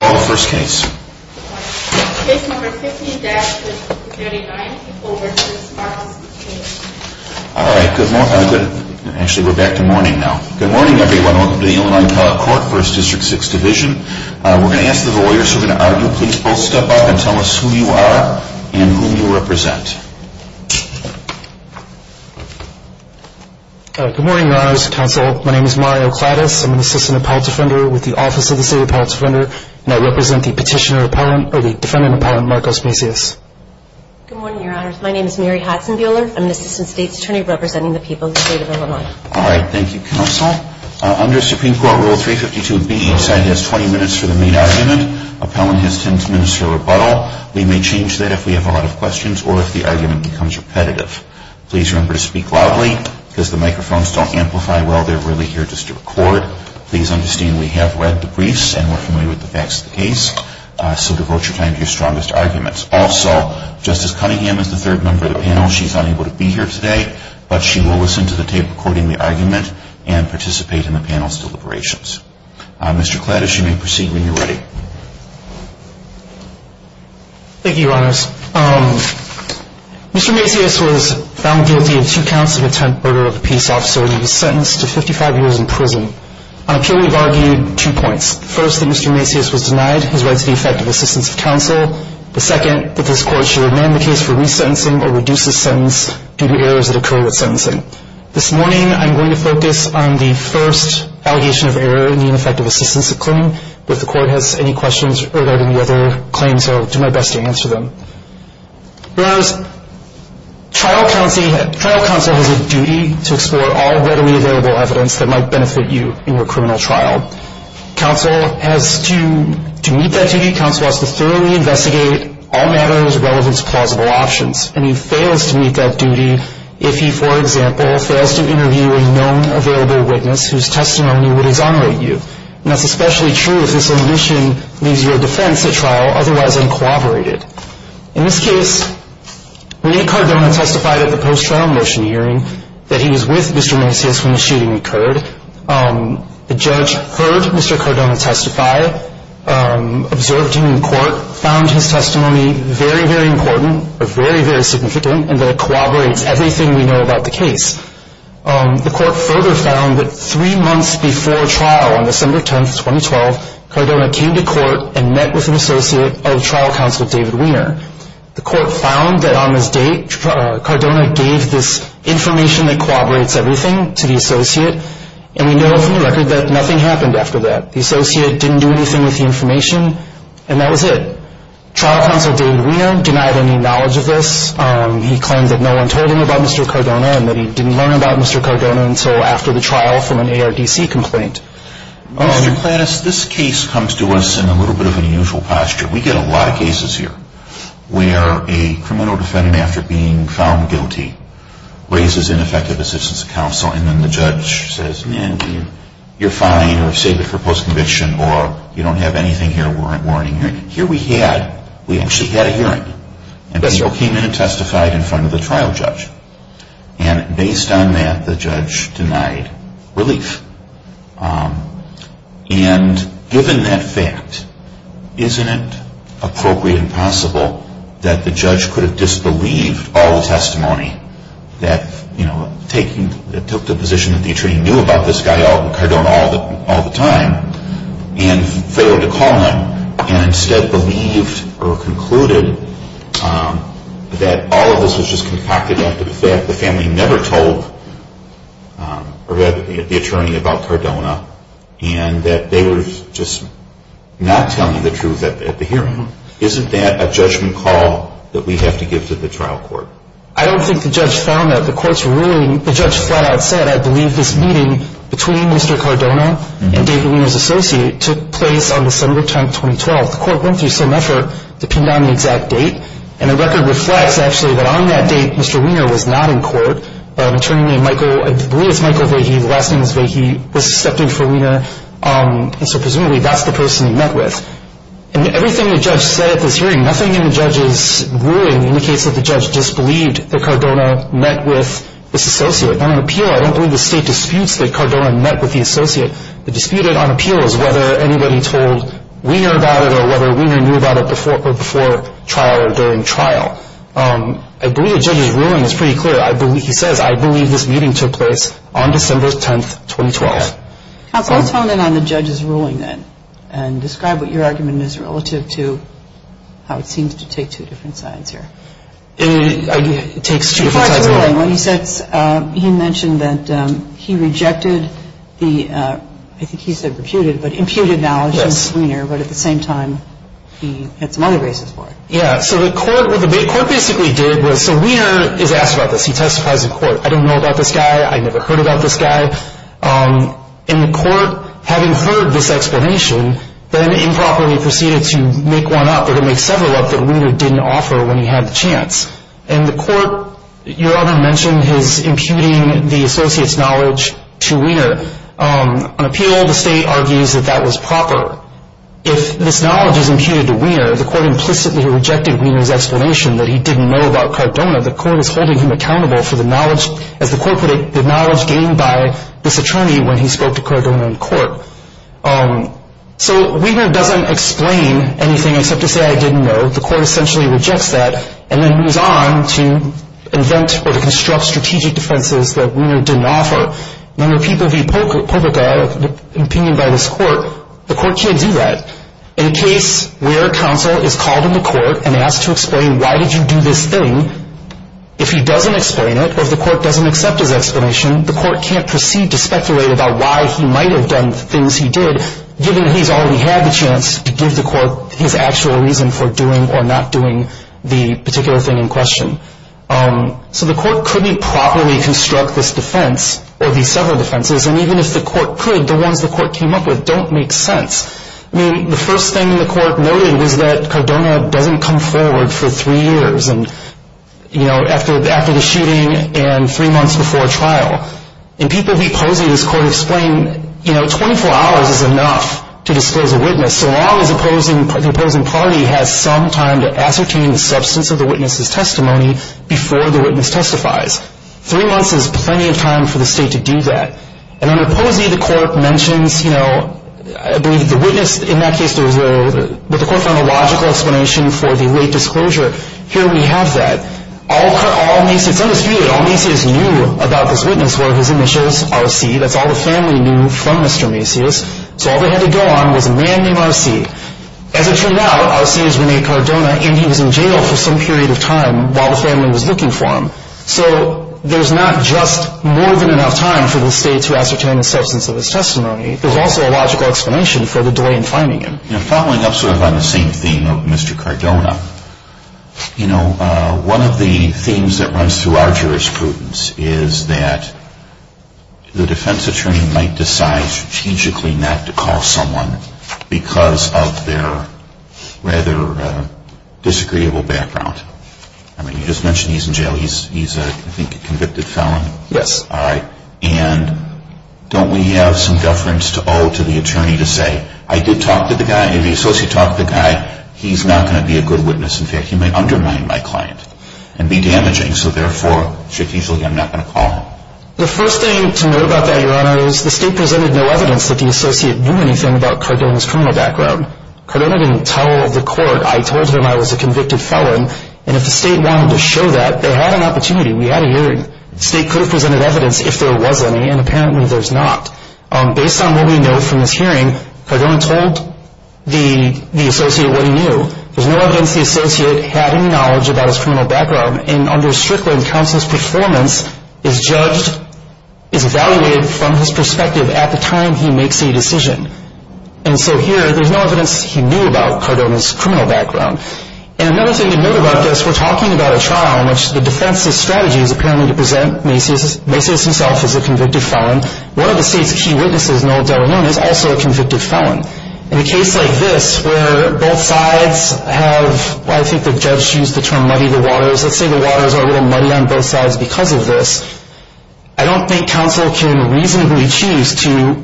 All first case. Case number 15-39. All right. Good morning. Actually, we're back to morning now. Good morning, everyone. Welcome to the Illinois Court, 1st District, 6th Division. We're going to ask the lawyers who are going to argue. Please both step up and tell us who you are and who you represent. Good morning, Your Honors Counsel. My name is Mario Kladis. I'm an Assistant Appellant Defender with the Office of the State Appellant Defender, and I represent the Petitioner Appellant, or the Defendant Appellant, Marcos Macias. Good morning, Your Honors. My name is Mary Haxenbuehler. I'm an Assistant State's Attorney representing the people of the state of Illinois. All right. Thank you, Counsel. Under Supreme Court Rule 352B, each side has 20 minutes for the main argument. Appellant has 10 minutes for rebuttal. We may change that if we have a lot of questions or if the argument becomes repetitive. Please remember to speak loudly because the microphones don't amplify well. They're really here just to record. Please understand we have read the briefs and we're familiar with the facts of the case. So devote your time to your strongest arguments. Also, Justice Cunningham is the third member of the panel. She's unable to be here today, but she will listen to the tape recording the argument and participate in the panel's deliberations. Mr. Kladis, you may proceed when you're ready. Thank you, Your Honors. Mr. Macias was found guilty of two counts of attempted murder of a peace officer and he was sentenced to 55 years in prison. On appeal, we've argued two points. The first, that Mr. Macias was denied his right to the effective assistance of counsel. The second, that this Court should amend the case for resentencing or reduce the sentence due to errors that occur with sentencing. This morning, I'm going to focus on the first allegation of error in the ineffective assistance claim. If the Court has any questions regarding the other claims, I'll do my best to answer them. Your Honors, trial counsel has a duty to explore all readily available evidence that might benefit you in your criminal trial. Counsel has to meet that duty. Counsel has to thoroughly investigate all matters relevant to plausible options. And he fails to meet that duty if he, for example, fails to interview a known available witness whose testimony would exonerate you. And that's especially true if this omission leaves your defense at trial otherwise uncooperated. In this case, Rene Cardona testified at the post-trial motion hearing that he was with Mr. Macias when the shooting occurred. The judge heard Mr. Cardona testify, observed him in court, found his testimony very, very important or very, very significant and that it cooperates everything we know about the case. The Court further found that three months before trial, on December 10, 2012, Cardona came to court and met with an associate of trial counsel David Weiner. The Court found that on this date, Cardona gave this information that cooperates everything to the associate. And we know from the record that nothing happened after that. The associate didn't do anything with the information, and that was it. Trial counsel David Weiner denied any knowledge of this. He claimed that no one told him about Mr. Cardona and that he didn't learn about Mr. Cardona until after the trial from an ARDC complaint. Mr. Kladis, this case comes to us in a little bit of an unusual posture. We get a lot of cases here where a criminal defendant, after being found guilty, raises ineffective assistance to counsel, and then the judge says, man, you're fine, or save it for post-conviction, or you don't have anything here warning you. Yes, sir. The criminal came in and testified in front of the trial judge. And based on that, the judge denied relief. And given that fact, isn't it appropriate and possible that the judge could have disbelieved all the testimony, that taking the position that the attorney knew about this guy, that all of this was just concocted after the fact, the family never told the attorney about Cardona, and that they were just not telling the truth at the hearing? Isn't that a judgment call that we have to give to the trial court? I don't think the judge found that. The court's ruling, the judge flat out said, I believe this meeting between Mr. Cardona and David Weiner's associate took place on December 10, 2012. The court went through some effort to pin down the exact date, and the record reflects, actually, that on that date, Mr. Weiner was not in court. An attorney named Michael, I believe it's Michael Vahey, the last name is Vahey, was suspected for Weiner. And so presumably that's the person he met with. And everything the judge said at this hearing, nothing in the judge's ruling indicates that the judge disbelieved that Cardona met with this associate. On appeal, I don't believe the state disputes that Cardona met with the associate. The dispute on appeal is whether anybody told Weiner about it or whether Weiner knew about it before trial or during trial. I believe the judge's ruling is pretty clear. He says, I believe this meeting took place on December 10, 2012. Okay. Counsel, let's hone in on the judge's ruling then and describe what your argument is relative to how it seems to take two different sides here. It takes two different sides. Before his ruling, he mentioned that he rejected the, I think he said reputed, but imputed knowledge of Weiner, but at the same time he had some other reasons for it. Yeah. So the court basically did was, so Weiner is asked about this. He testifies in court. I don't know about this guy. I never heard about this guy. And the court, having heard this explanation, then improperly proceeded to make one up or to make several up that Weiner didn't offer when he had the chance. And the court, your argument mentioned his imputing the associate's knowledge to Weiner. On appeal, the state argues that that was proper. If this knowledge is imputed to Weiner, the court implicitly rejected Weiner's explanation that he didn't know about Cardona. The court is holding him accountable for the knowledge, as the court predicted, the knowledge gained by this attorney when he spoke to Cardona in court. So Weiner doesn't explain anything except to say, I didn't know. The court essentially rejects that and then moves on to invent or to construct strategic defenses that Weiner didn't offer. Now, when people view public opinion by this court, the court can't do that. In a case where counsel is called in the court and asked to explain why did you do this thing, if he doesn't explain it or if the court doesn't accept his explanation, the court can't proceed to speculate about why he might have done the things he did, given he's already had the chance to give the court his actual reason for doing or not doing the particular thing in question. So the court couldn't properly construct this defense or these several defenses, and even if the court could, the ones the court came up with don't make sense. I mean, the first thing the court noted was that Cardona doesn't come forward for three years and, you know, after the shooting and three months before trial. And people who oppose this court explain, you know, 24 hours is enough to disclose a witness, so long as the opposing party has some time to ascertain the substance of the witness's testimony before the witness testifies. Three months is plenty of time for the state to do that. And under Posey, the court mentions, you know, the witness, in that case, the court found a logical explanation for the late disclosure. Here we have that. It's undisputed, all Maceius knew about this witness were his initials, RC. That's all the family knew from Mr. Maceius. So all they had to go on was a man named RC. As it turned out, RC is Rene Cardona, and he was in jail for some period of time while the family was looking for him. So there's not just more than enough time for the state to ascertain the substance of his testimony. There's also a logical explanation for the delay in finding him. You know, following up sort of on the same theme of Mr. Cardona, you know, one of the themes that runs through our jurisprudence is that the defense attorney might decide strategically not to call someone because of their rather disagreeable background. I mean, you just mentioned he's in jail. He's, I think, a convicted felon. Yes. And don't we have some deference to owe to the attorney to say, I did talk to the guy, the associate talked to the guy. He's not going to be a good witness. In fact, he might undermine my client and be damaging. So therefore, strategically, I'm not going to call him. The first thing to note about that, Your Honor, is the state presented no evidence that the associate knew anything about Cardona's criminal background. Cardona didn't tell the court. I told him I was a convicted felon. And if the state wanted to show that, they had an opportunity. We had a hearing. The state could have presented evidence if there was any, and apparently there's not. Based on what we know from this hearing, Cardona told the associate what he knew. There's no evidence the associate had any knowledge about his criminal background. And under Strickland, counsel's performance is judged, is evaluated from his perspective at the time he makes a decision. And so here, there's no evidence he knew about Cardona's criminal background. And another thing to note about this, we're talking about a trial in which the defense's strategy is apparently to present Macy's. Macy's himself is a convicted felon. One of the state's key witnesses, Noel De La Luna, is also a convicted felon. In a case like this, where both sides have, I think the judge used the term muddy the waters, let's say the waters are a little muddy on both sides because of this, I don't think counsel can reasonably choose to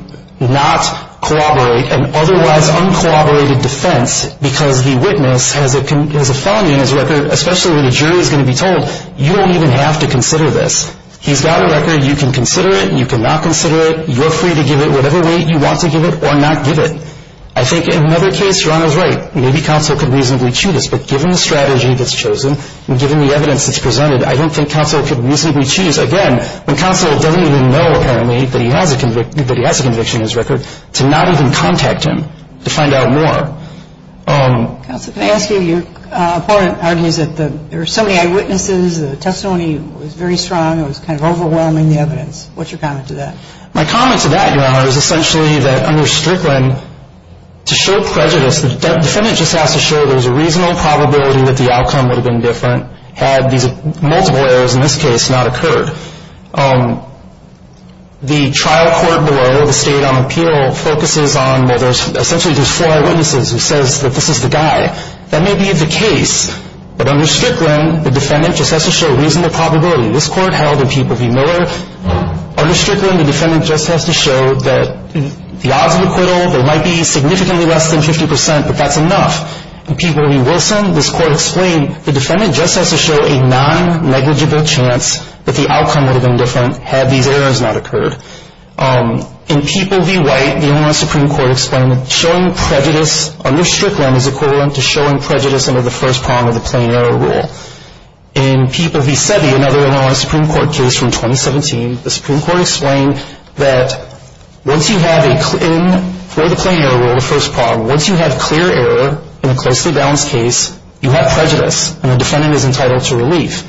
not corroborate an otherwise uncorroborated defense because the witness has a felony in his record, especially when the jury is going to be told, you don't even have to consider this. He's got a record. You can consider it. You cannot consider it. You're free to give it whatever way you want to give it or not give it. I think in another case, Rana was right. Maybe counsel could reasonably choose this, but given the strategy that's chosen and given the evidence that's presented, I don't think counsel could reasonably choose, again, when counsel doesn't even know, apparently, that he has a conviction in his record, to not even contact him to find out more. Counsel, can I ask you, your opponent argues that there are so many eyewitnesses, the testimony was very strong, it was kind of overwhelming, the evidence. What's your comment to that? My comment to that, Your Honor, is essentially that under Strickland, to show prejudice, the defendant just has to show there's a reasonable probability that the outcome would have been different had these multiple errors in this case not occurred. The trial court below, the State on Appeal, focuses on, well, there's essentially just four eyewitnesses who says that this is the guy. That may be the case, but under Strickland, the defendant just has to show reasonable probability. This court held in Peeple v. Miller, under Strickland, the defendant just has to show that the odds of acquittal, they might be significantly less than 50 percent, but that's enough. In Peeple v. Wilson, this court explained the defendant just has to show a non-negligible chance that the outcome would have been different had these errors not occurred. In Peeple v. White, the only one Supreme Court explained that showing prejudice under Strickland is equivalent to showing prejudice under the first prong of the plain error rule. In Peeple v. Sebi, another non-Supreme Court case from 2017, the Supreme Court explained that once you have a, for the plain error rule, the first prong, once you have clear error in a closely balanced case, you have prejudice, and the defendant is entitled to relief.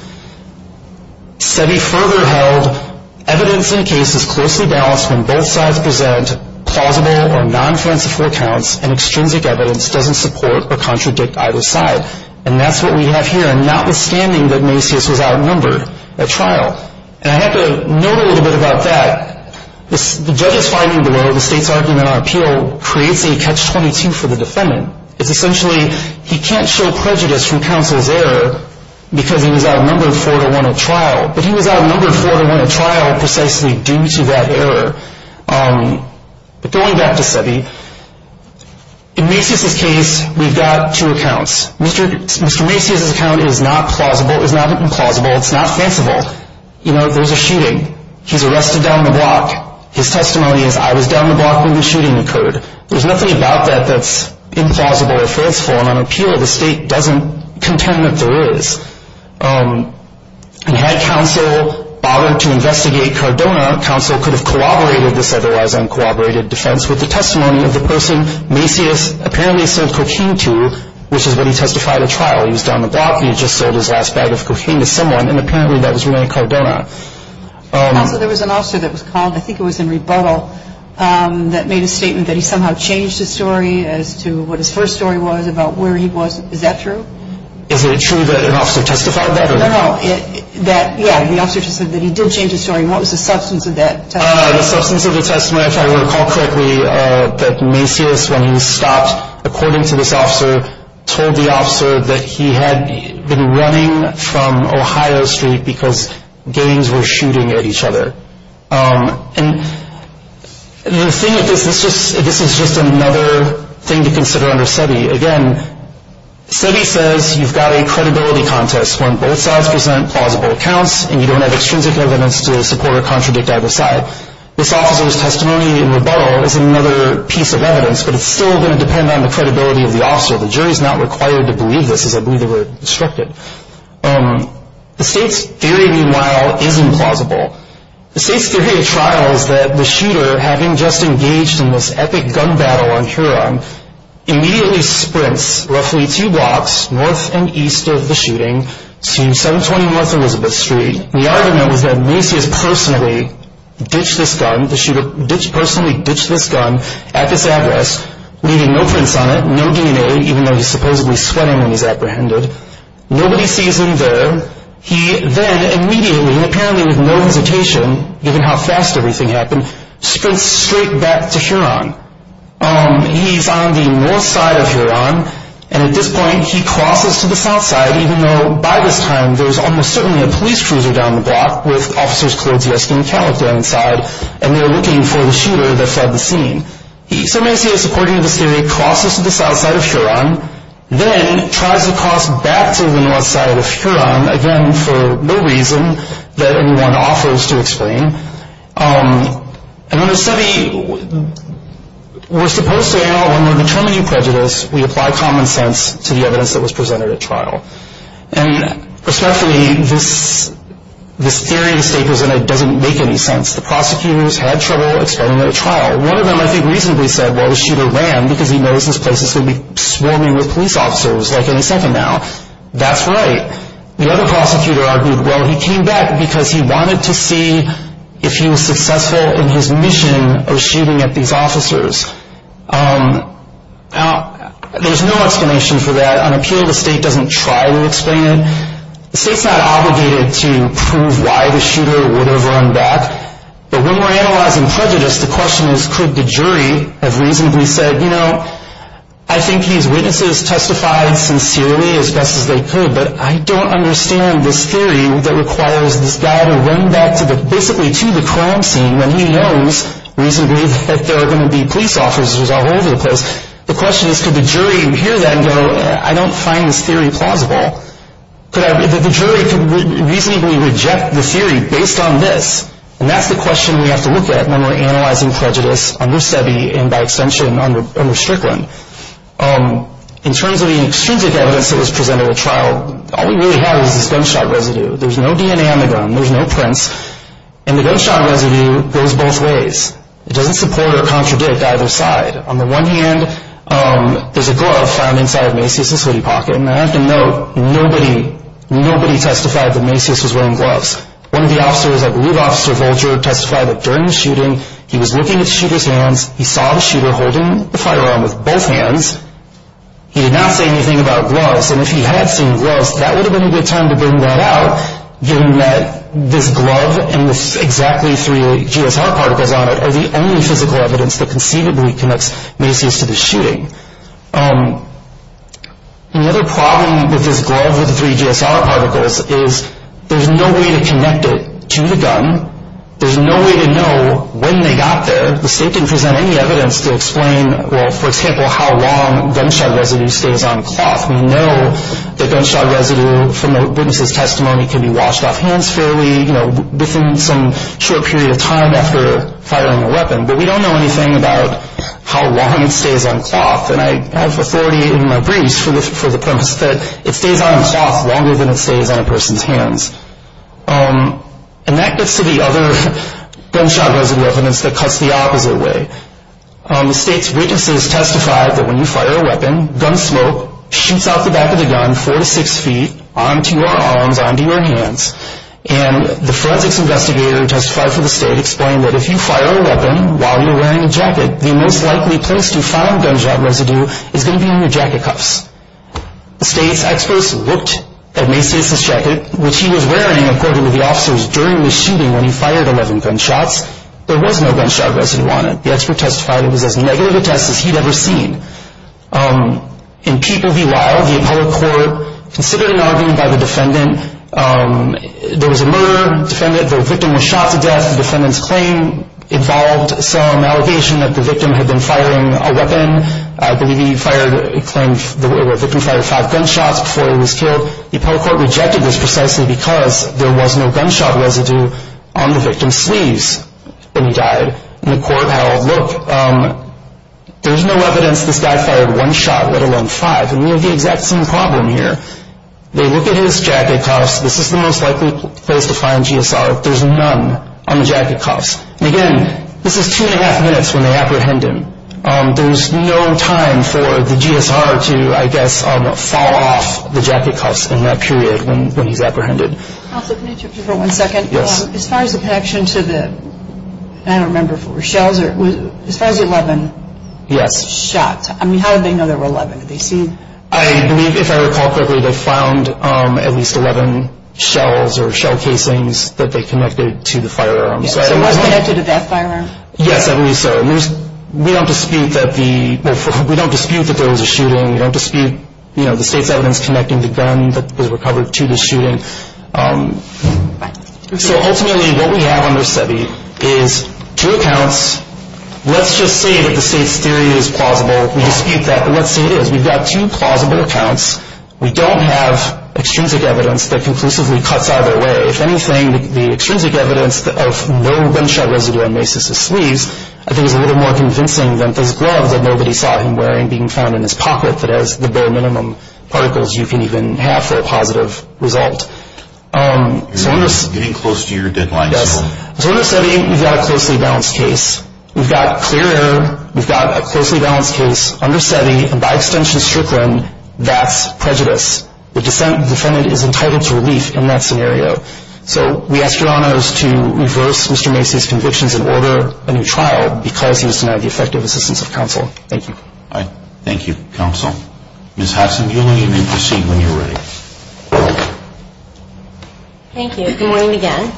Sebi further held evidence in a case is closely balanced when both sides present plausible or non-falsifiable accounts and extrinsic evidence doesn't support or contradict either side. And that's what we have here, notwithstanding that Macias was outnumbered at trial. And I have to note a little bit about that. The judge's finding below, the state's argument on appeal, creates a catch-22 for the defendant. It's essentially he can't show prejudice from counsel's error because he was outnumbered 4-1 at trial, but he was outnumbered 4-1 at trial precisely due to that error. But going back to Sebi, in Macias' case, we've got two accounts. Mr. Macias' account is not plausible, is not implausible, it's not falsifiable. You know, there's a shooting. He's arrested down the block. His testimony is, I was down the block when the shooting occurred. There's nothing about that that's implausible or falseful, and on appeal the state doesn't contend that there is. And had counsel bothered to investigate Cardona, counsel could have corroborated this otherwise uncorroborated defense with the testimony of the person Macias apparently sold cocaine to, which is what he testified at trial. He was down the block, he had just sold his last bag of cocaine to someone, and apparently that was Ray Cardona. Also, there was an officer that was called, I think it was in rebuttal, that made a statement that he somehow changed his story as to what his first story was about where he was. Is that true? Is it true that an officer testified that? No, no. That, yeah, the officer just said that he did change his story, and what was the substance of that testimony? The substance of the testimony, if I recall correctly, that Macias, when he stopped, according to this officer, told the officer that he had been running from Ohio Street because gangs were shooting at each other. And the thing is, this is just another thing to consider under SEBI. Again, SEBI says you've got a credibility contest when both sides present plausible accounts and you don't have extrinsic evidence to support or contradict either side. This officer's testimony in rebuttal is another piece of evidence, but it's still going to depend on the credibility of the officer. The jury is not required to believe this, as I believe they were instructed. The state's theory, meanwhile, is implausible. The state's theory at trial is that the shooter, having just engaged in this epic gun battle on Huron, immediately sprints roughly two blocks north and east of the shooting to 720 North Elizabeth Street. The argument was that Macias personally ditched this gun at this address, leaving no prints on it, no DNA, even though he's supposedly sweating when he's apprehended. Nobody sees him there. He then immediately, apparently with no hesitation, given how fast everything happened, sprints straight back to Huron. He's on the north side of Huron, and at this point he crosses to the south side, even though by this time there's almost certainly a police cruiser down the block with officers clothed dressed in camouflage on the side, and they're looking for the shooter that fled the scene. So Macias, according to this theory, crosses to the south side of Huron, then tries to cross back to the north side of Huron, again for no reason that anyone offers to explain. And when we're supposed to, when we're determining prejudice, we apply common sense to the evidence that was presented at trial. And respectfully, this theory the state was in doesn't make any sense. The prosecutors had trouble explaining it at trial. One of them, I think, reasonably said, well, the shooter ran because he knows this place is going to be swarming with police officers like any second now. That's right. The other prosecutor argued, well, he came back because he wanted to see if he was successful in his mission of shooting at these officers. Now, there's no explanation for that. On appeal, the state doesn't try to explain it. The state's not obligated to prove why the shooter would have run back. But when we're analyzing prejudice, the question is, could the jury have reasonably said, you know, I think these witnesses testified sincerely as best as they could, but I don't understand this theory that requires this guy to run back to the, basically to the crime scene when he knows reasonably that there are going to be police officers all over the place. The question is, could the jury hear that and go, I don't find this theory plausible. Could I, the jury could reasonably reject the theory based on this. And that's the question we have to look at when we're analyzing prejudice under SEBI and by extension under Strickland. In terms of the extrinsic evidence that was presented at trial, all we really have is this gunshot residue. There's no DNA on the gun. There's no prints. And the gunshot residue goes both ways. It doesn't support or contradict either side. On the one hand, there's a glove found inside of Macias' hoodie pocket. And I have to note, nobody, nobody testified that Macias was wearing gloves. One of the officers, I believe Officer Vulture, testified that during the shooting, he was looking at the shooter's hands. He saw the shooter holding the firearm with both hands. He did not say anything about gloves. And if he had seen gloves, that would have been a good time to bring that out, given that this glove, and with exactly three GSR particles on it, are the only physical evidence that conceivably connects Macias to the shooting. Another problem with this glove with the three GSR particles is there's no way to connect it to the gun. There's no way to know when they got there. The state didn't present any evidence to explain, well, for example, how long gunshot residue stays on cloth. We know that gunshot residue, from the witness' testimony, can be washed off hands fairly, you know, within some short period of time after firing a weapon. But we don't know anything about how long it stays on cloth. And I have authority in my briefs for the premise that it stays on cloth longer than it stays on a person's hands. And that gets to the other gunshot residue evidence that cuts the opposite way. The state's witnesses testified that when you fire a weapon, gun smoke shoots off the back of the gun four to six feet onto your arms, onto your hands. And the forensics investigator who testified for the state explained that if you fire a weapon while you're wearing a jacket, the most likely place to find gunshot residue is going to be in your jacket cuffs. The state's experts looked at Macias' jacket, which he was wearing, according to the officers, during the shooting when he fired 11 gunshots. There was no gunshot residue on it. The expert testified it was as negative a test as he'd ever seen. In people be wild, the appellate court considered an argument by the defendant. There was a murder. The victim was shot to death. The defendant's claim involved some allegation that the victim had been firing a weapon. I believe he claimed the victim fired five gunshots before he was killed. The appellate court rejected this precisely because there was no gunshot residue on the victim's sleeves when he died. And the court held, look, there's no evidence this guy fired one shot, let alone five. And we have the exact same problem here. They look at his jacket cuffs. This is the most likely place to find GSR. There's none on the jacket cuffs. And again, this is two and a half minutes when they apprehend him. There's no time for the GSR to, I guess, fall off the jacket cuffs in that period when he's apprehended. Counsel, can I interrupt you for one second? Yes. As far as the connection to the, I don't remember if it were shells or, as far as the 11 shots, I mean, how did they know there were 11? Did they see? I believe, if I recall correctly, they found at least 11 shells or shell casings that they connected to the firearm. So it was connected to that firearm? Yes, I believe so. We don't dispute that there was a shooting. We don't dispute the state's evidence connecting the gun that was recovered to the shooting. So ultimately what we have under SEBI is two accounts. Let's just say that the state's theory is plausible. We dispute that, but let's say it is. We've got two plausible accounts. We don't have extrinsic evidence that conclusively cuts either way. If anything, the extrinsic evidence of no gunshot residue on Macy's sleeves, I think, is a little more convincing than this glove that nobody saw him wearing being found in his pocket that has the bare minimum particles you can even have for a positive result. You're getting close to your deadline. Yes. So under SEBI, you've got a closely balanced case. We've got clear error. We've got a closely balanced case. Under SEBI, and by extension, Strickland, that's prejudice. The defendant is entitled to relief in that scenario. So we ask your honors to reverse Mr. Macy's convictions and order a new trial because he was denied the effective assistance of counsel. Thank you. All right. Thank you, counsel. Ms. Hodgson, you'll need to proceed when you're ready. Thank you. Good morning again.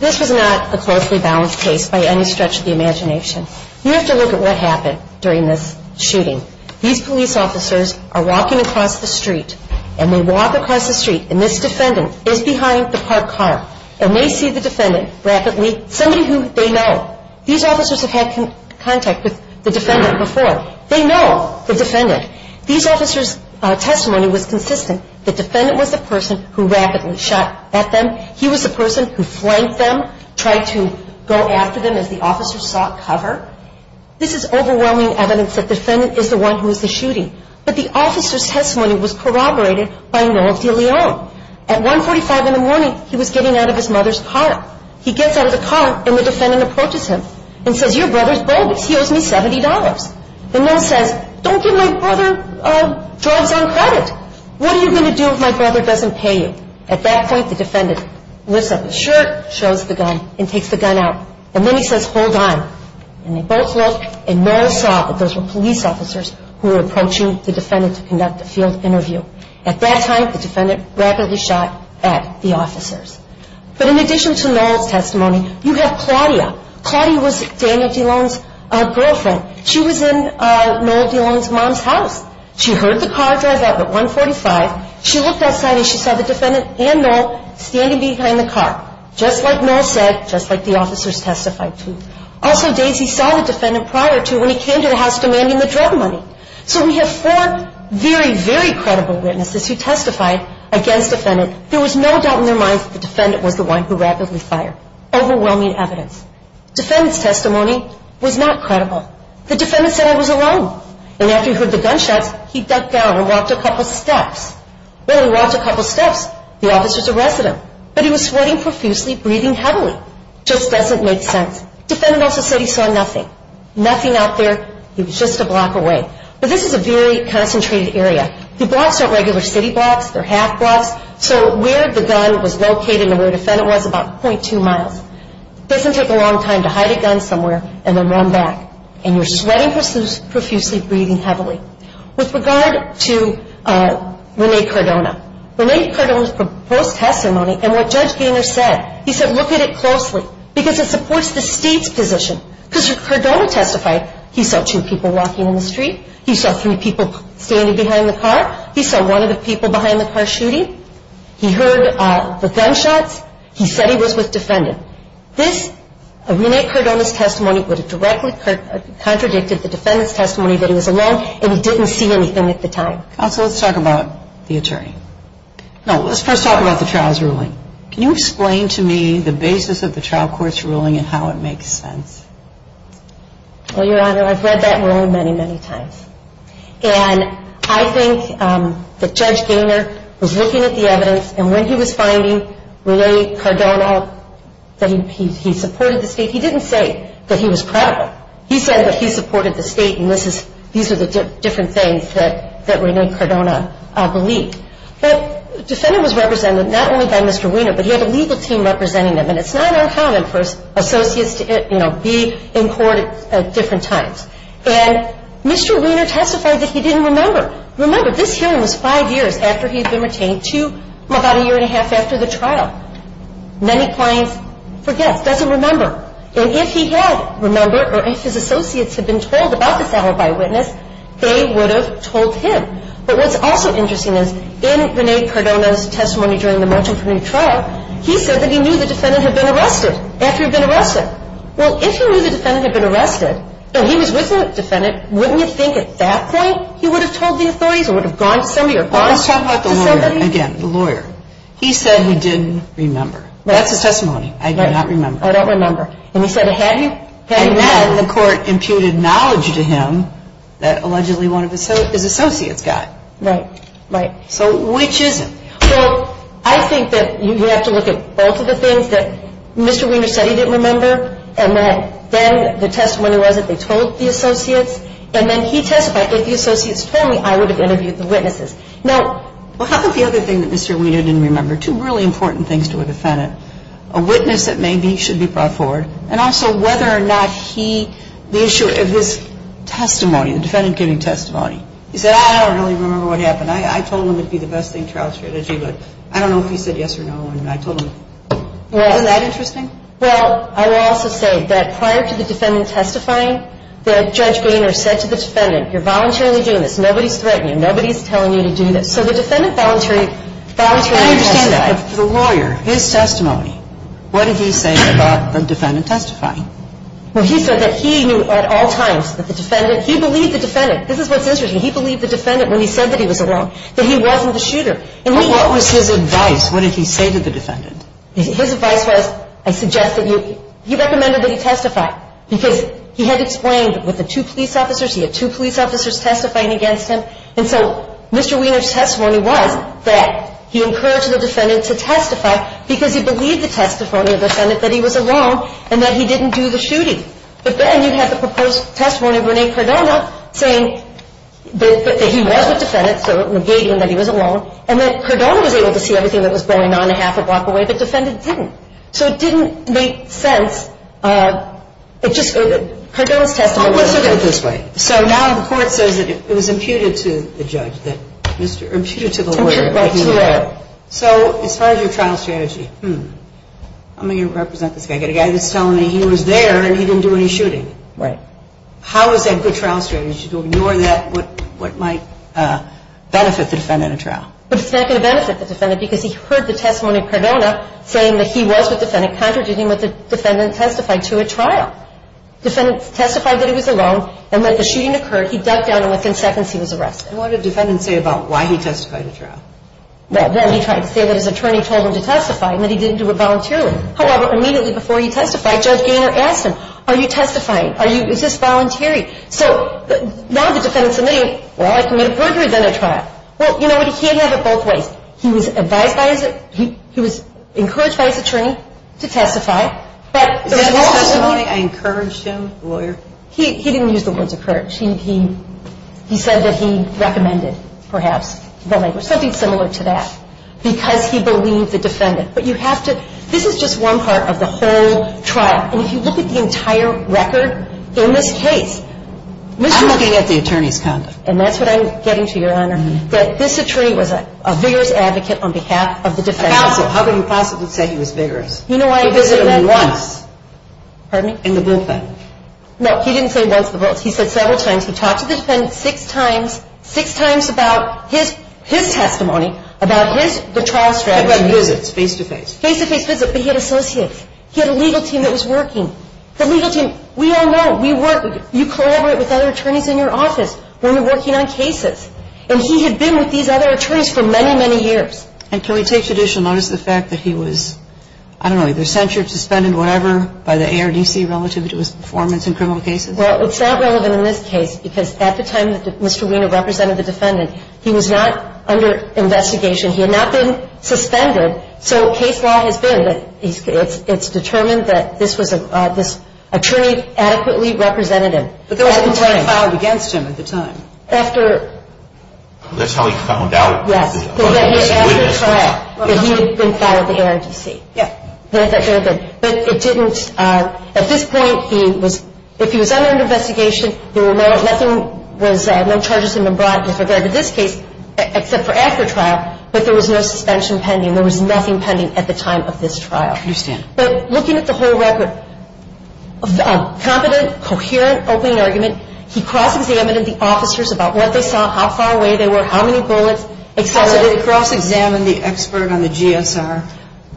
This was not a closely balanced case by any stretch of the imagination. You have to look at what happened during this shooting. These police officers are walking across the street, and they walk across the street, and this defendant is behind the parked car, and they see the defendant rapidly. Somebody who they know. These officers have had contact with the defendant before. They know the defendant. These officers' testimony was consistent. The defendant was the person who rapidly shot at them. He was the person who flanked them, tried to go after them as the officers sought cover. This is overwhelming evidence that the defendant is the one who was the shooting. But the officer's testimony was corroborated by Noel DeLeon. At 145 in the morning, he was getting out of his mother's car. He gets out of the car, and the defendant approaches him and says, Your brother's bogus. He owes me $70. And Noel says, Don't give my brother drugs on credit. What are you going to do if my brother doesn't pay you? At that point, the defendant lifts up his shirt, shows the gun, and takes the gun out. And then he says, Hold on. And they both look, and Noel saw that those were police officers who were approaching the defendant to conduct a field interview. At that time, the defendant rapidly shot at the officers. But in addition to Noel's testimony, you have Claudia. Claudia was Daniel DeLeon's girlfriend. She was in Noel DeLeon's mom's house. She heard the car drive out at 145. She looked outside, and she saw the defendant and Noel standing behind the car. Just like Noel said, just like the officers testified to. Also, Daisy saw the defendant prior to when he came to the house demanding the drug money. So we have four very, very credible witnesses who testified against the defendant. There was no doubt in their minds that the defendant was the one who rapidly fired. Overwhelming evidence. The defendant's testimony was not credible. The defendant said, I was alone. And after he heard the gunshots, he ducked down and walked a couple steps. Well, he walked a couple steps. The officer's a resident. But he was sweating profusely, breathing heavily. Just doesn't make sense. The defendant also said he saw nothing. Nothing out there. He was just a block away. But this is a very concentrated area. The blocks aren't regular city blocks. They're half blocks. So where the gun was located and where the defendant was is about .2 miles. It doesn't take a long time to hide a gun somewhere and then run back. And you're sweating profusely, breathing heavily. With regard to Rene Cardona. Rene Cardona's proposed testimony and what Judge Gaynor said, he said look at it closely. Because it supports the state's position. Because Cardona testified, he saw two people walking in the street. He saw three people standing behind the car. He saw one of the people behind the car shooting. He heard the gunshots. He said he was with defendants. This, Rene Cardona's testimony would have directly contradicted the defendant's testimony that he was alone. And he didn't see anything at the time. Counsel, let's talk about the attorney. No, let's first talk about the trial's ruling. Can you explain to me the basis of the trial court's ruling and how it makes sense? Well, Your Honor, I've read that ruling many, many times. And I think that Judge Gaynor was looking at the evidence. And when he was finding Rene Cardona, that he supported the state. He didn't say that he was credible. He said that he supported the state. And these are the different things that Rene Cardona believed. But the defendant was represented not only by Mr. Wiener, but he had a legal team representing him. And it's not uncommon for associates to be in court at different times. And Mr. Wiener testified that he didn't remember. Remember, this hearing was five years after he had been retained to about a year and a half after the trial. Many clients forget, doesn't remember. And if he had remembered, or if his associates had been told about this hour by witness, they would have told him. But what's also interesting is, in Rene Cardona's testimony during the March Infirmary trial, he said that he knew the defendant had been arrested after he'd been arrested. Well, if he knew the defendant had been arrested and he was with the defendant, wouldn't you think at that point he would have told the authorities or would have gone to somebody or contacted somebody? Let's talk about the lawyer again, the lawyer. He said he didn't remember. That's his testimony. I do not remember. I don't remember. And he said, had he? Had he remembered? And then the court imputed knowledge to him that allegedly one of his associates got. Right, right. So which is it? Well, I think that you have to look at both of the things that Mr. Wiener said he didn't remember and that then the testimony was that they told the associates. And then he testified that if the associates told me, I would have interviewed the witnesses. Well, how about the other thing that Mr. Wiener didn't remember, two really important things to a defendant? A witness that maybe should be brought forward. And also whether or not he, the issue of his testimony, the defendant giving testimony. He said, I don't really remember what happened. I told him it would be the best thing in trial strategy, but I don't know if he said yes or no. And I told him. Isn't that interesting? Well, I will also say that prior to the defendant testifying, Judge Wiener said to the defendant, you're voluntarily doing this. Nobody's threatening you. Nobody's telling you to do this. So the defendant voluntarily testified. But for the lawyer, his testimony, what did he say about the defendant testifying? Well, he said that he knew at all times that the defendant, he believed the defendant. This is what's interesting. He believed the defendant when he said that he was alone, that he wasn't the shooter. But what was his advice? What did he say to the defendant? His advice was, I suggest that you, he recommended that he testify because he had explained with the two police officers, he had two police officers testifying against him. And so Mr. Wiener's testimony was that he encouraged the defendant to testify because he believed the testimony of the defendant that he was alone and that he didn't do the shooting. But then you have the proposed testimony of Rene Cardona saying that he was with the defendant, so it was negating that he was alone, and that Cardona was able to see everything that was going on a half a block away, but the defendant didn't. So it didn't make sense. It just, Cardona's testimony was different. I'll put it this way. So now the court says that it was imputed to the judge, imputed to the lawyer. So as far as your trial strategy, I'm going to represent this guy. I've got a guy that's telling me he was there and he didn't do any shooting. Right. How is that good trial strategy to ignore that, what might benefit the defendant in a trial? But it's not going to benefit the defendant because he heard the testimony of Cardona saying that he was with the defendant, contradicting what the defendant testified to at trial. Defendant testified that he was alone and that the shooting occurred. He ducked down and within seconds he was arrested. And what did the defendant say about why he testified at trial? Well, then he tried to say that his attorney told him to testify and that he didn't do it voluntarily. However, immediately before he testified, Judge Gaynor asked him, are you testifying? Is this voluntary? So now the defendant's admitting, well, I committed murder, then at trial. Well, you know what? He can't have it both ways. He was advised by his, he was encouraged by his attorney to testify. Is that the testimony, I encouraged him, the lawyer? He didn't use the words encouraged. He said that he recommended, perhaps, the language, something similar to that, because he believed the defendant. But you have to, this is just one part of the whole trial. And if you look at the entire record in this case, Mr. Gaynor. I'm looking at the attorney's conduct. And that's what I'm getting to, Your Honor, that this attorney was a vigorous advocate on behalf of the defendant. A counsel. How can you possibly say he was vigorous? He visited me once. Pardon me? In the bullpen. No, he didn't say once in the bullpen. He said several times. He talked to the defendant six times, six times about his testimony, about his, the trial strategy. He had visits, face-to-face. Face-to-face visits, but he had associates. He had a legal team that was working. The legal team, we all know, we work, you collaborate with other attorneys in your office. Women working on cases. And he had been with these other attorneys for many, many years. And can we take judicial notice of the fact that he was, I don't know, either censured, suspended, whatever, by the ARDC relative to his performance in criminal cases? Well, it's not relevant in this case because at the time that Mr. Weiner represented the defendant, he was not under investigation. He had not been suspended. So case law has been that it's determined that this attorney adequately represented him. But there was a complaint filed against him at the time. After. That's how he found out. Yes. After trial. That he had been filed with the ARDC. Yes. But it didn't, at this point, he was, if he was under investigation, there were no, nothing was, no charges had been brought as regard to this case except for after trial. But there was no suspension pending. There was nothing pending at the time of this trial. I understand. But looking at the whole record, competent, coherent, open argument. He cross-examined the officers about what they saw, how far away they were, how far away they were. Did he cross-examine the expert on the GSR?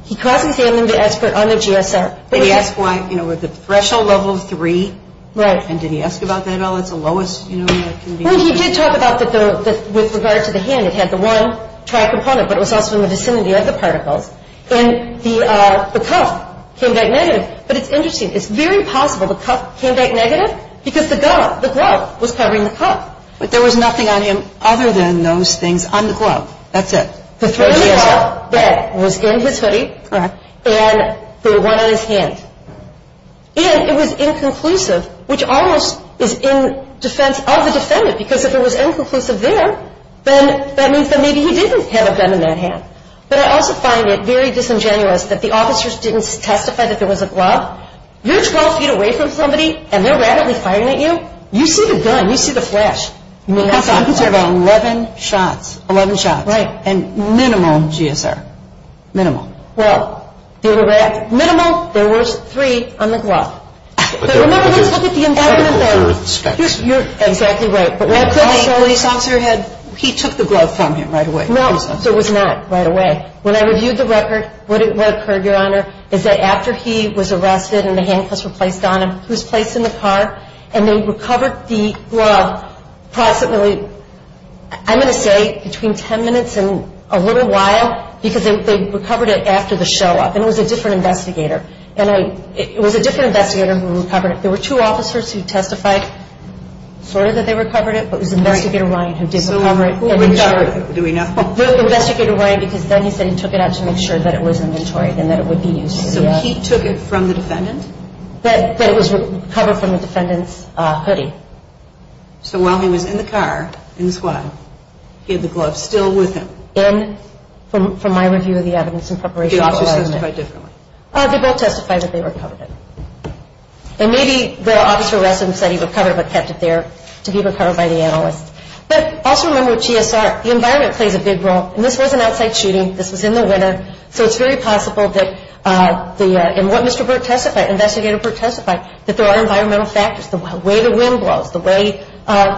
He cross-examined the expert on the GSR. Did he ask why, you know, the threshold level of three? Right. And did he ask about that at all? That's the lowest, you know, that can be. Well, he did talk about that with regard to the hand. It had the one trial component. But it was also in the vicinity of the particles. And the cuff came back negative. But it's interesting. It's very possible the cuff came back negative because the glove was covering the cuff. But there was nothing on him other than those things on the glove. That's it. The three in the glove, that was in his hoodie. All right. And the one on his hand. And it was inconclusive, which almost is in defense of the defendant. Because if it was inconclusive there, then that means that maybe he didn't have a gun in that hand. But I also find it very disingenuous that the officers didn't testify that there was a glove. You're 12 feet away from somebody, and they're rapidly firing at you. You see the gun. You see the flash. Because there were 11 shots. 11 shots. And minimal GSR. Minimal. Well, minimal, there was three on the glove. But remember, let's look at the indictment there. You're exactly right. But also the officer had, he took the glove from him right away. No. So it was not right away. When I reviewed the record, what occurred, Your Honor, is that after he was arrested and the handcuffs were placed on him, he was placed in the car, and they recovered the glove possibly, I'm going to say between 10 minutes and a little while, because they recovered it after the show up. And it was a different investigator. And it was a different investigator who recovered it. There were two officers who testified sort of that they recovered it, but it was Investigator Ryan who did recover it. So who recovered it? Do we know? Investigator Ryan, because then he said he took it out to make sure that it was inventory and that it would be used. So he took it from the defendant? That it was recovered from the defendant's hoodie. So while he was in the car, in the squad, he had the glove still with him? In, from my review of the evidence in preparation for the judgment. Did the officers testify differently? They both testified that they recovered it. And maybe the officer arrested him, said he recovered it, but kept it there to be recovered by the analyst. But also remember with GSR, the environment plays a big role. And this was an outside shooting. This was in the winter. So it's very possible that the, and what Mr. Burke testified, Investigator Burke testified, that there are environmental factors. The way the wind blows, the way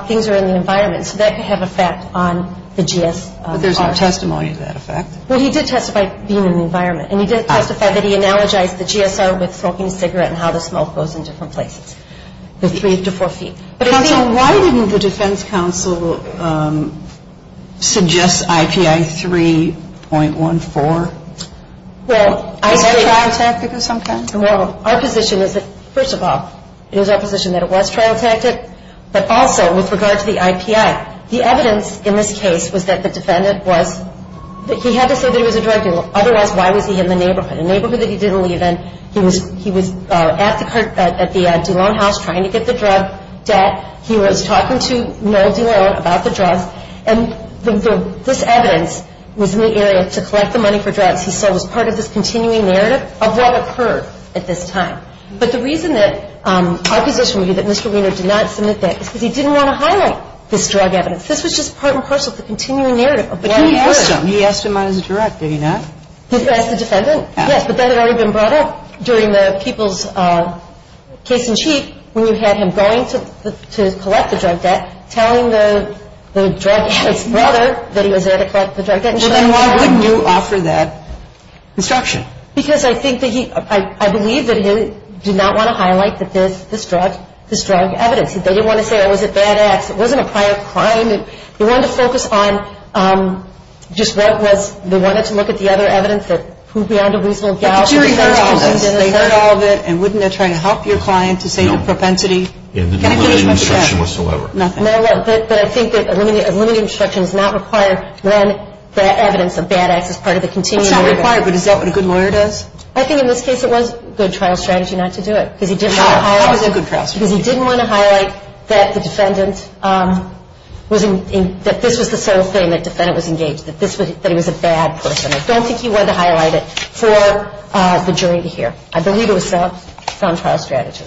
things are in the environment. So that could have an effect on the GSR. But there's no testimony to that effect? Well, he did testify being in the environment. And he did testify that he analogized the GSR with smoking a cigarette and how the smoke goes in different places, the three to four feet. Counsel, why didn't the defense counsel suggest IPI 3.14? Is this trial tactic of some kind? Well, our position is that, first of all, it is our position that it was trial tactic. But also with regard to the IPI, the evidence in this case was that the defendant was, he had to say that it was a drug deal. Otherwise, why was he in the neighborhood? A neighborhood that he didn't leave in. He was at the DeLone house trying to get the drug debt. He was talking to Noel DeLone about the drugs. And this evidence was in the area to collect the money for drugs. He said it was part of this continuing narrative of what occurred at this time. But the reason that our position would be that Mr. Wiener did not submit that is because he didn't want to highlight this drug evidence. This was just part and parcel of the continuing narrative of what occurred. But he asked him. He asked him on his direct, did he not? He asked the defendant. Yes. But that had already been brought up during the people's case in chief when you had him going to collect the drug debt, telling the drug addict's brother that he was there to collect the drug debt. Well, then why wouldn't you offer that instruction? Because I think that he, I believe that he did not want to highlight that this drug, this drug evidence. They didn't want to say it was a bad act. It wasn't a prior crime. They wanted to focus on just what was, they wanted to look at the other evidence that who beyond a reasonable doubt. But the jury heard all of this. They heard all of it. And wouldn't it try to help your client to say the propensity? No. In the non-limited instruction whatsoever. No. But I think that a limited instruction is not required when the evidence of bad acts is part of the continuing narrative. It's not required. But is that what a good lawyer does? I think in this case it was a good trial strategy not to do it. No. That was a good trial strategy. Because he didn't want to highlight that the defendant was in, that this was the sole thing that defendant was engaged, that this was, that he was a bad person. I don't think he wanted to highlight it for the jury to hear. I believe it was a sound trial strategy.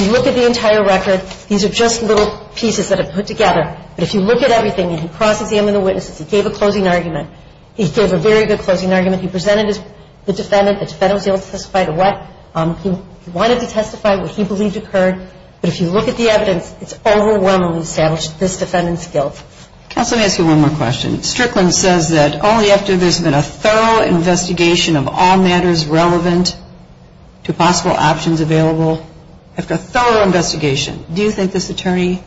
You look at the entire record. These are just little pieces that are put together. But if you look at everything, and he crosses him and the witnesses. He gave a closing argument. He gave a very good closing argument. He presented the defendant. The defendant was able to testify to what he wanted to testify, what he believed occurred. But if you look at the evidence, it's overwhelmingly established this defendant's guilt. Counsel, let me ask you one more question. Strickland says that only after there's been a thorough investigation of all matters relevant to possible options available, after a thorough investigation, do you think this attorney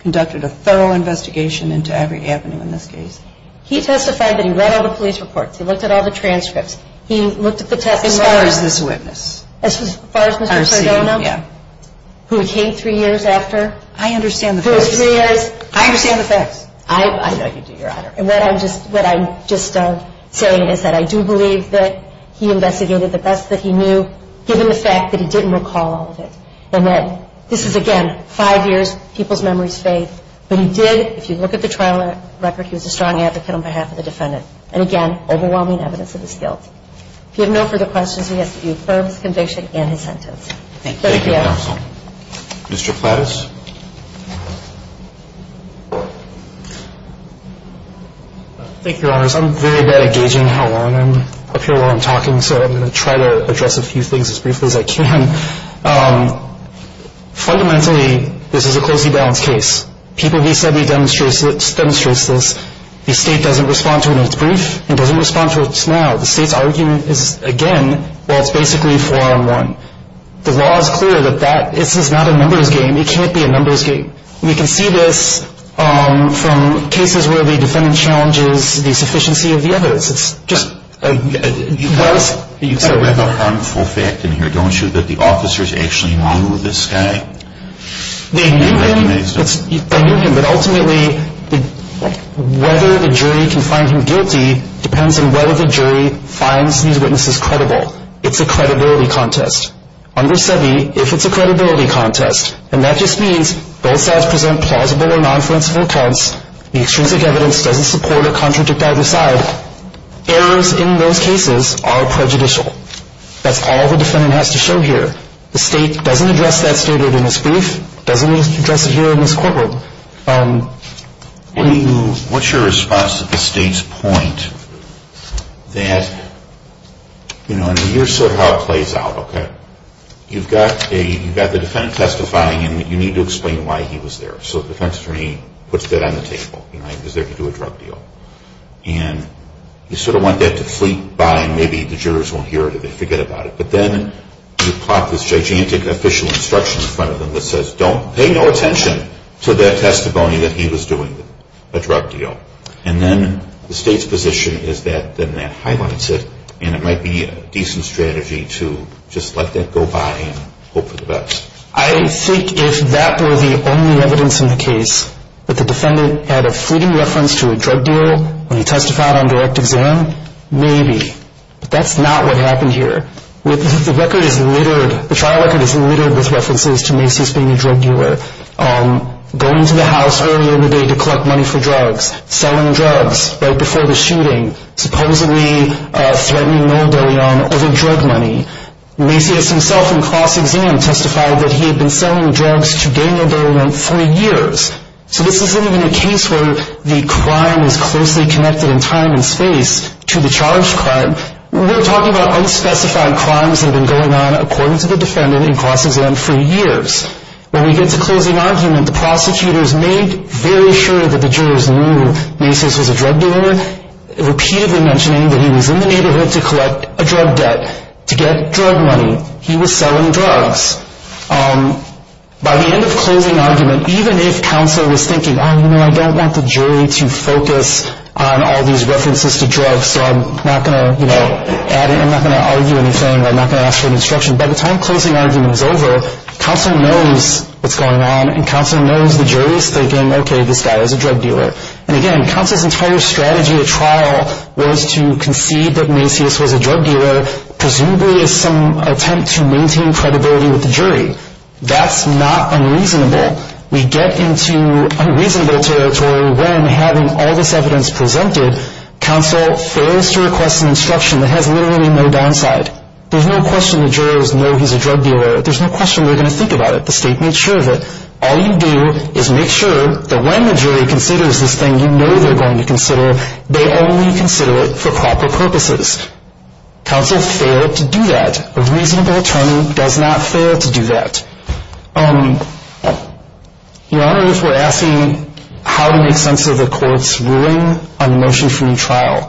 conducted a thorough investigation into every avenue in this case? He testified that he read all the police reports. He looked at all the transcripts. He looked at the testimony. As far as this witness. As far as Mr. Cardona. Yeah. Who came three years after. I understand the facts. For three years. I understand the facts. I know you do, Your Honor. And what I'm just saying is that I do believe that he investigated the best that he knew, given the fact that he didn't recall all of it. And that this is, again, five years. People's memories fade. But he did, if you look at the trial record, he was a strong advocate on behalf of the defendant. And, again, overwhelming evidence of his guilt. If you have no further questions, we ask that you affirm his conviction and his sentence. Thank you. Thank you, counsel. Mr. Plattis. Thank you, Your Honors. I'm very bad at gauging how long I'm up here while I'm talking. So I'm going to try to address a few things as briefly as I can. Fundamentally, this is a closely balanced case. People he said he demonstrates this. The state doesn't respond to it when it's brief. It doesn't respond to it now. The state's argument is, again, well, it's basically four on one. The law is clear that this is not a numbers game. It can't be a numbers game. And you can see this from cases where the defendant challenges the sufficiency of the evidence. It's just a gross. You kind of have a harmful fact in here, don't you, that the officers actually knew this guy and recognized him. They knew him. But ultimately, whether the jury can find him guilty depends on whether the jury finds these witnesses credible. It's a credibility contest. Under SEBI, if it's a credibility contest, and that just means both sides present plausible or nonfluenceful accounts, the extrinsic evidence doesn't support or contradict either side, errors in those cases are prejudicial. That's all the defendant has to show here. The state doesn't address that statement in its brief. It doesn't address it here in this courtroom. What's your response to the state's point that, you know, here's how it plays out, okay? You've got the defendant testifying, and you need to explain why he was there. So the defense attorney puts that on the table. You know, he was there to do a drug deal. And you sort of want that to fleet by, and maybe the jurors won't hear it or they forget about it. But then you plot this gigantic official instruction in front of them that says, don't pay no attention to the testimony that he was doing, a drug deal. And then the state's position is that then that highlights it, and it might be a decent strategy to just let that go by and hope for the best. I think if that were the only evidence in the case that the defendant had a fleeting reference to a drug deal when he testified on direct exam, maybe. But that's not what happened here. The record is littered, the trial record is littered with references to Macy's being a drug dealer, going to the house early in the day to collect money for drugs, selling drugs right before the shooting, supposedly threatening Noel De Leon over drug money. Macy's himself in cross-exam testified that he had been selling drugs to Daniel De Leon for years. So this isn't even a case where the crime is closely connected in time and space to the charged crime. We're talking about unspecified crimes that have been going on, according to the defendant in cross-exam, for years. When we get to closing argument, the prosecutors made very sure that the jurors knew Macy's was a drug dealer, repeatedly mentioning that he was in the neighborhood to collect a drug debt to get drug money. He was selling drugs. By the end of closing argument, even if counsel was thinking, oh, you know, I don't want the jury to focus on all these references to drugs, so I'm not going to, you know, add it, I'm not going to argue anything, I'm not going to ask for an instruction. By the time closing argument is over, counsel knows what's going on, and counsel knows the jury is thinking, okay, this guy is a drug dealer. And again, counsel's entire strategy at trial was to concede that Macy's was a drug dealer, presumably as some attempt to maintain credibility with the jury. That's not unreasonable. We get into unreasonable territory when, having all this evidence presented, counsel fails to request an instruction that has literally no downside. There's no question the jurors know he's a drug dealer. There's no question they're going to think about it. The state made sure of it. All you do is make sure that when the jury considers this thing you know they're going to consider, they only consider it for proper purposes. Counsel failed to do that. A reasonable attorney does not fail to do that. Your Honor, if we're asking how to make sense of a court's ruling on a motion-free trial,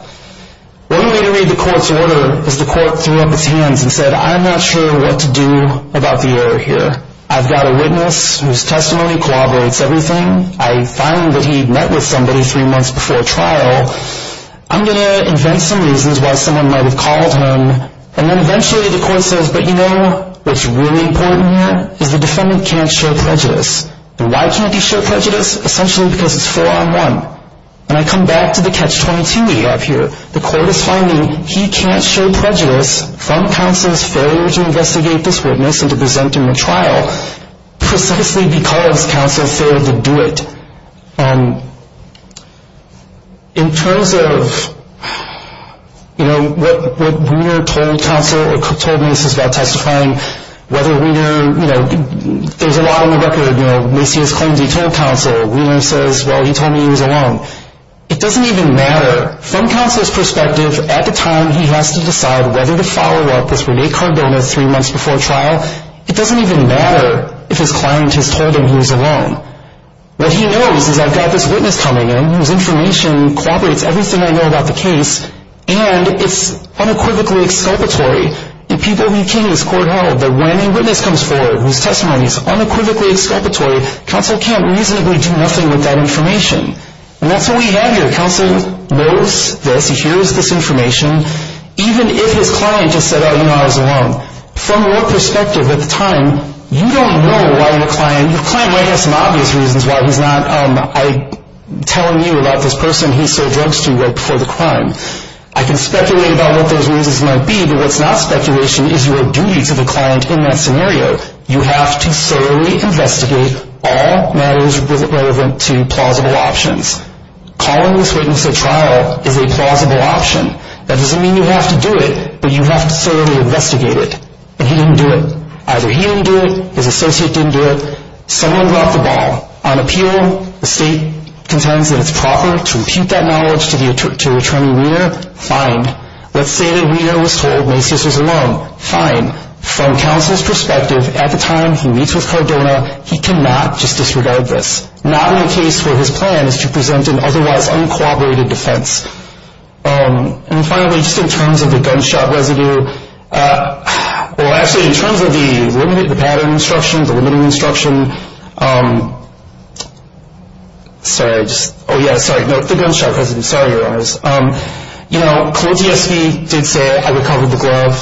one way to read the court's order is the court threw up its hands and said, I'm not sure what to do about the error here. I've got a witness whose testimony corroborates everything. I find that he met with somebody three months before trial. I'm going to invent some reasons why someone might have called him. And then eventually the court says, but you know what's really important here is the defendant can't show prejudice. And why can't he show prejudice? Essentially because it's four-on-one. And I come back to the catch-22 we have here. The court is finding he can't show prejudice from counsel's failure to investigate this witness and to present him at trial, precisely because counsel failed to do it. In terms of, you know, what Wiener told counsel or told Macy's about testifying, whether Wiener, you know, there's a lot on the record. You know, Macy has claimed he told counsel. Wiener says, well, he told me he was alone. It doesn't even matter. From counsel's perspective, at the time he has to decide whether to follow up this Rene Cardona three months before trial, it doesn't even matter if his client has told him he was alone. What he knows is I've got this witness coming in whose information corroborates everything I know about the case, and it's unequivocally exculpatory. The people who came to this court held that when a witness comes forward whose testimony is unequivocally exculpatory, counsel can't reasonably do nothing with that information. And that's what we have here. Counsel knows this, he hears this information, even if his client just said, oh, you know, I was alone. From your perspective at the time, you don't know why your client, your client might have some obvious reasons why he's not telling you about this person he sold drugs to right before the crime. I can speculate about what those reasons might be, but what's not speculation is your duty to the client in that scenario. You have to thoroughly investigate all matters relevant to plausible options. Calling this witness at trial is a plausible option. That doesn't mean you have to do it, but you have to thoroughly investigate it. But he didn't do it. Either he didn't do it, his associate didn't do it, someone dropped the ball. On appeal, the state contends that it's proper to repute that knowledge to Attorney Weiner. Fine. Let's say that Weiner was told Macy's was alone. Fine. From counsel's perspective at the time he meets with Cardona, he cannot just disregard this. Not in a case where his plan is to present an otherwise uncooperated defense. And finally, just in terms of the gunshot residue, well, actually, in terms of the pattern instruction, the limiting instruction, sorry, just, oh, yeah, sorry, the gunshot residue, sorry, your honors. You know, Cole G.S.V. did say, I recovered the glove.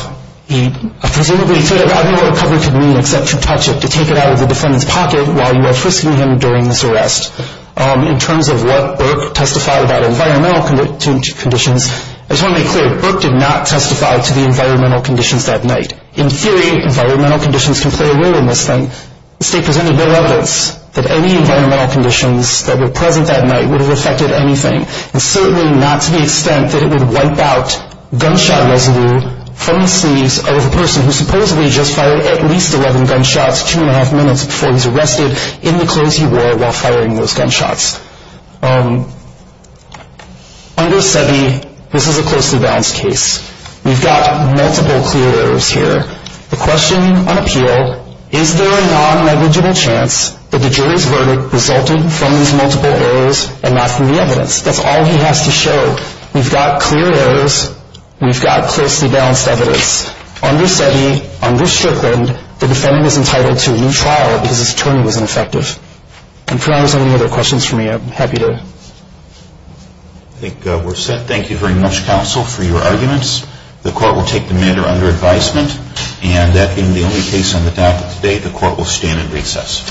Presumably, I don't know what recovered could mean except to touch it, to take it out of the defendant's pocket while you are frisking him during this arrest. In terms of what Burke testified about environmental conditions, I just want to make clear, Burke did not testify to the environmental conditions that night. In theory, environmental conditions can play a role in this thing. The state presented no evidence that any environmental conditions that were present that night would have affected anything. And certainly not to the extent that it would wipe out gunshot residue from the sleeves of a person who supposedly just fired at least 11 gunshots two and a half minutes before he was arrested in the clothes he wore while firing those gunshots. Under SEBI, this is a closely balanced case. We've got multiple clear errors here. The question on appeal, is there a non-negligible chance that the jury's verdict resulted from these multiple errors and not from the evidence? That's all he has to show. We've got clear errors. We've got closely balanced evidence. Under SEBI, under Strickland, the defendant is entitled to a new trial because his attorney was ineffective. And if there aren't any other questions for me, I'm happy to... I think we're set. Thank you very much, counsel, for your arguments. The court will take the matter under advisement. And that being the only case on the docket today, the court will stand and recess.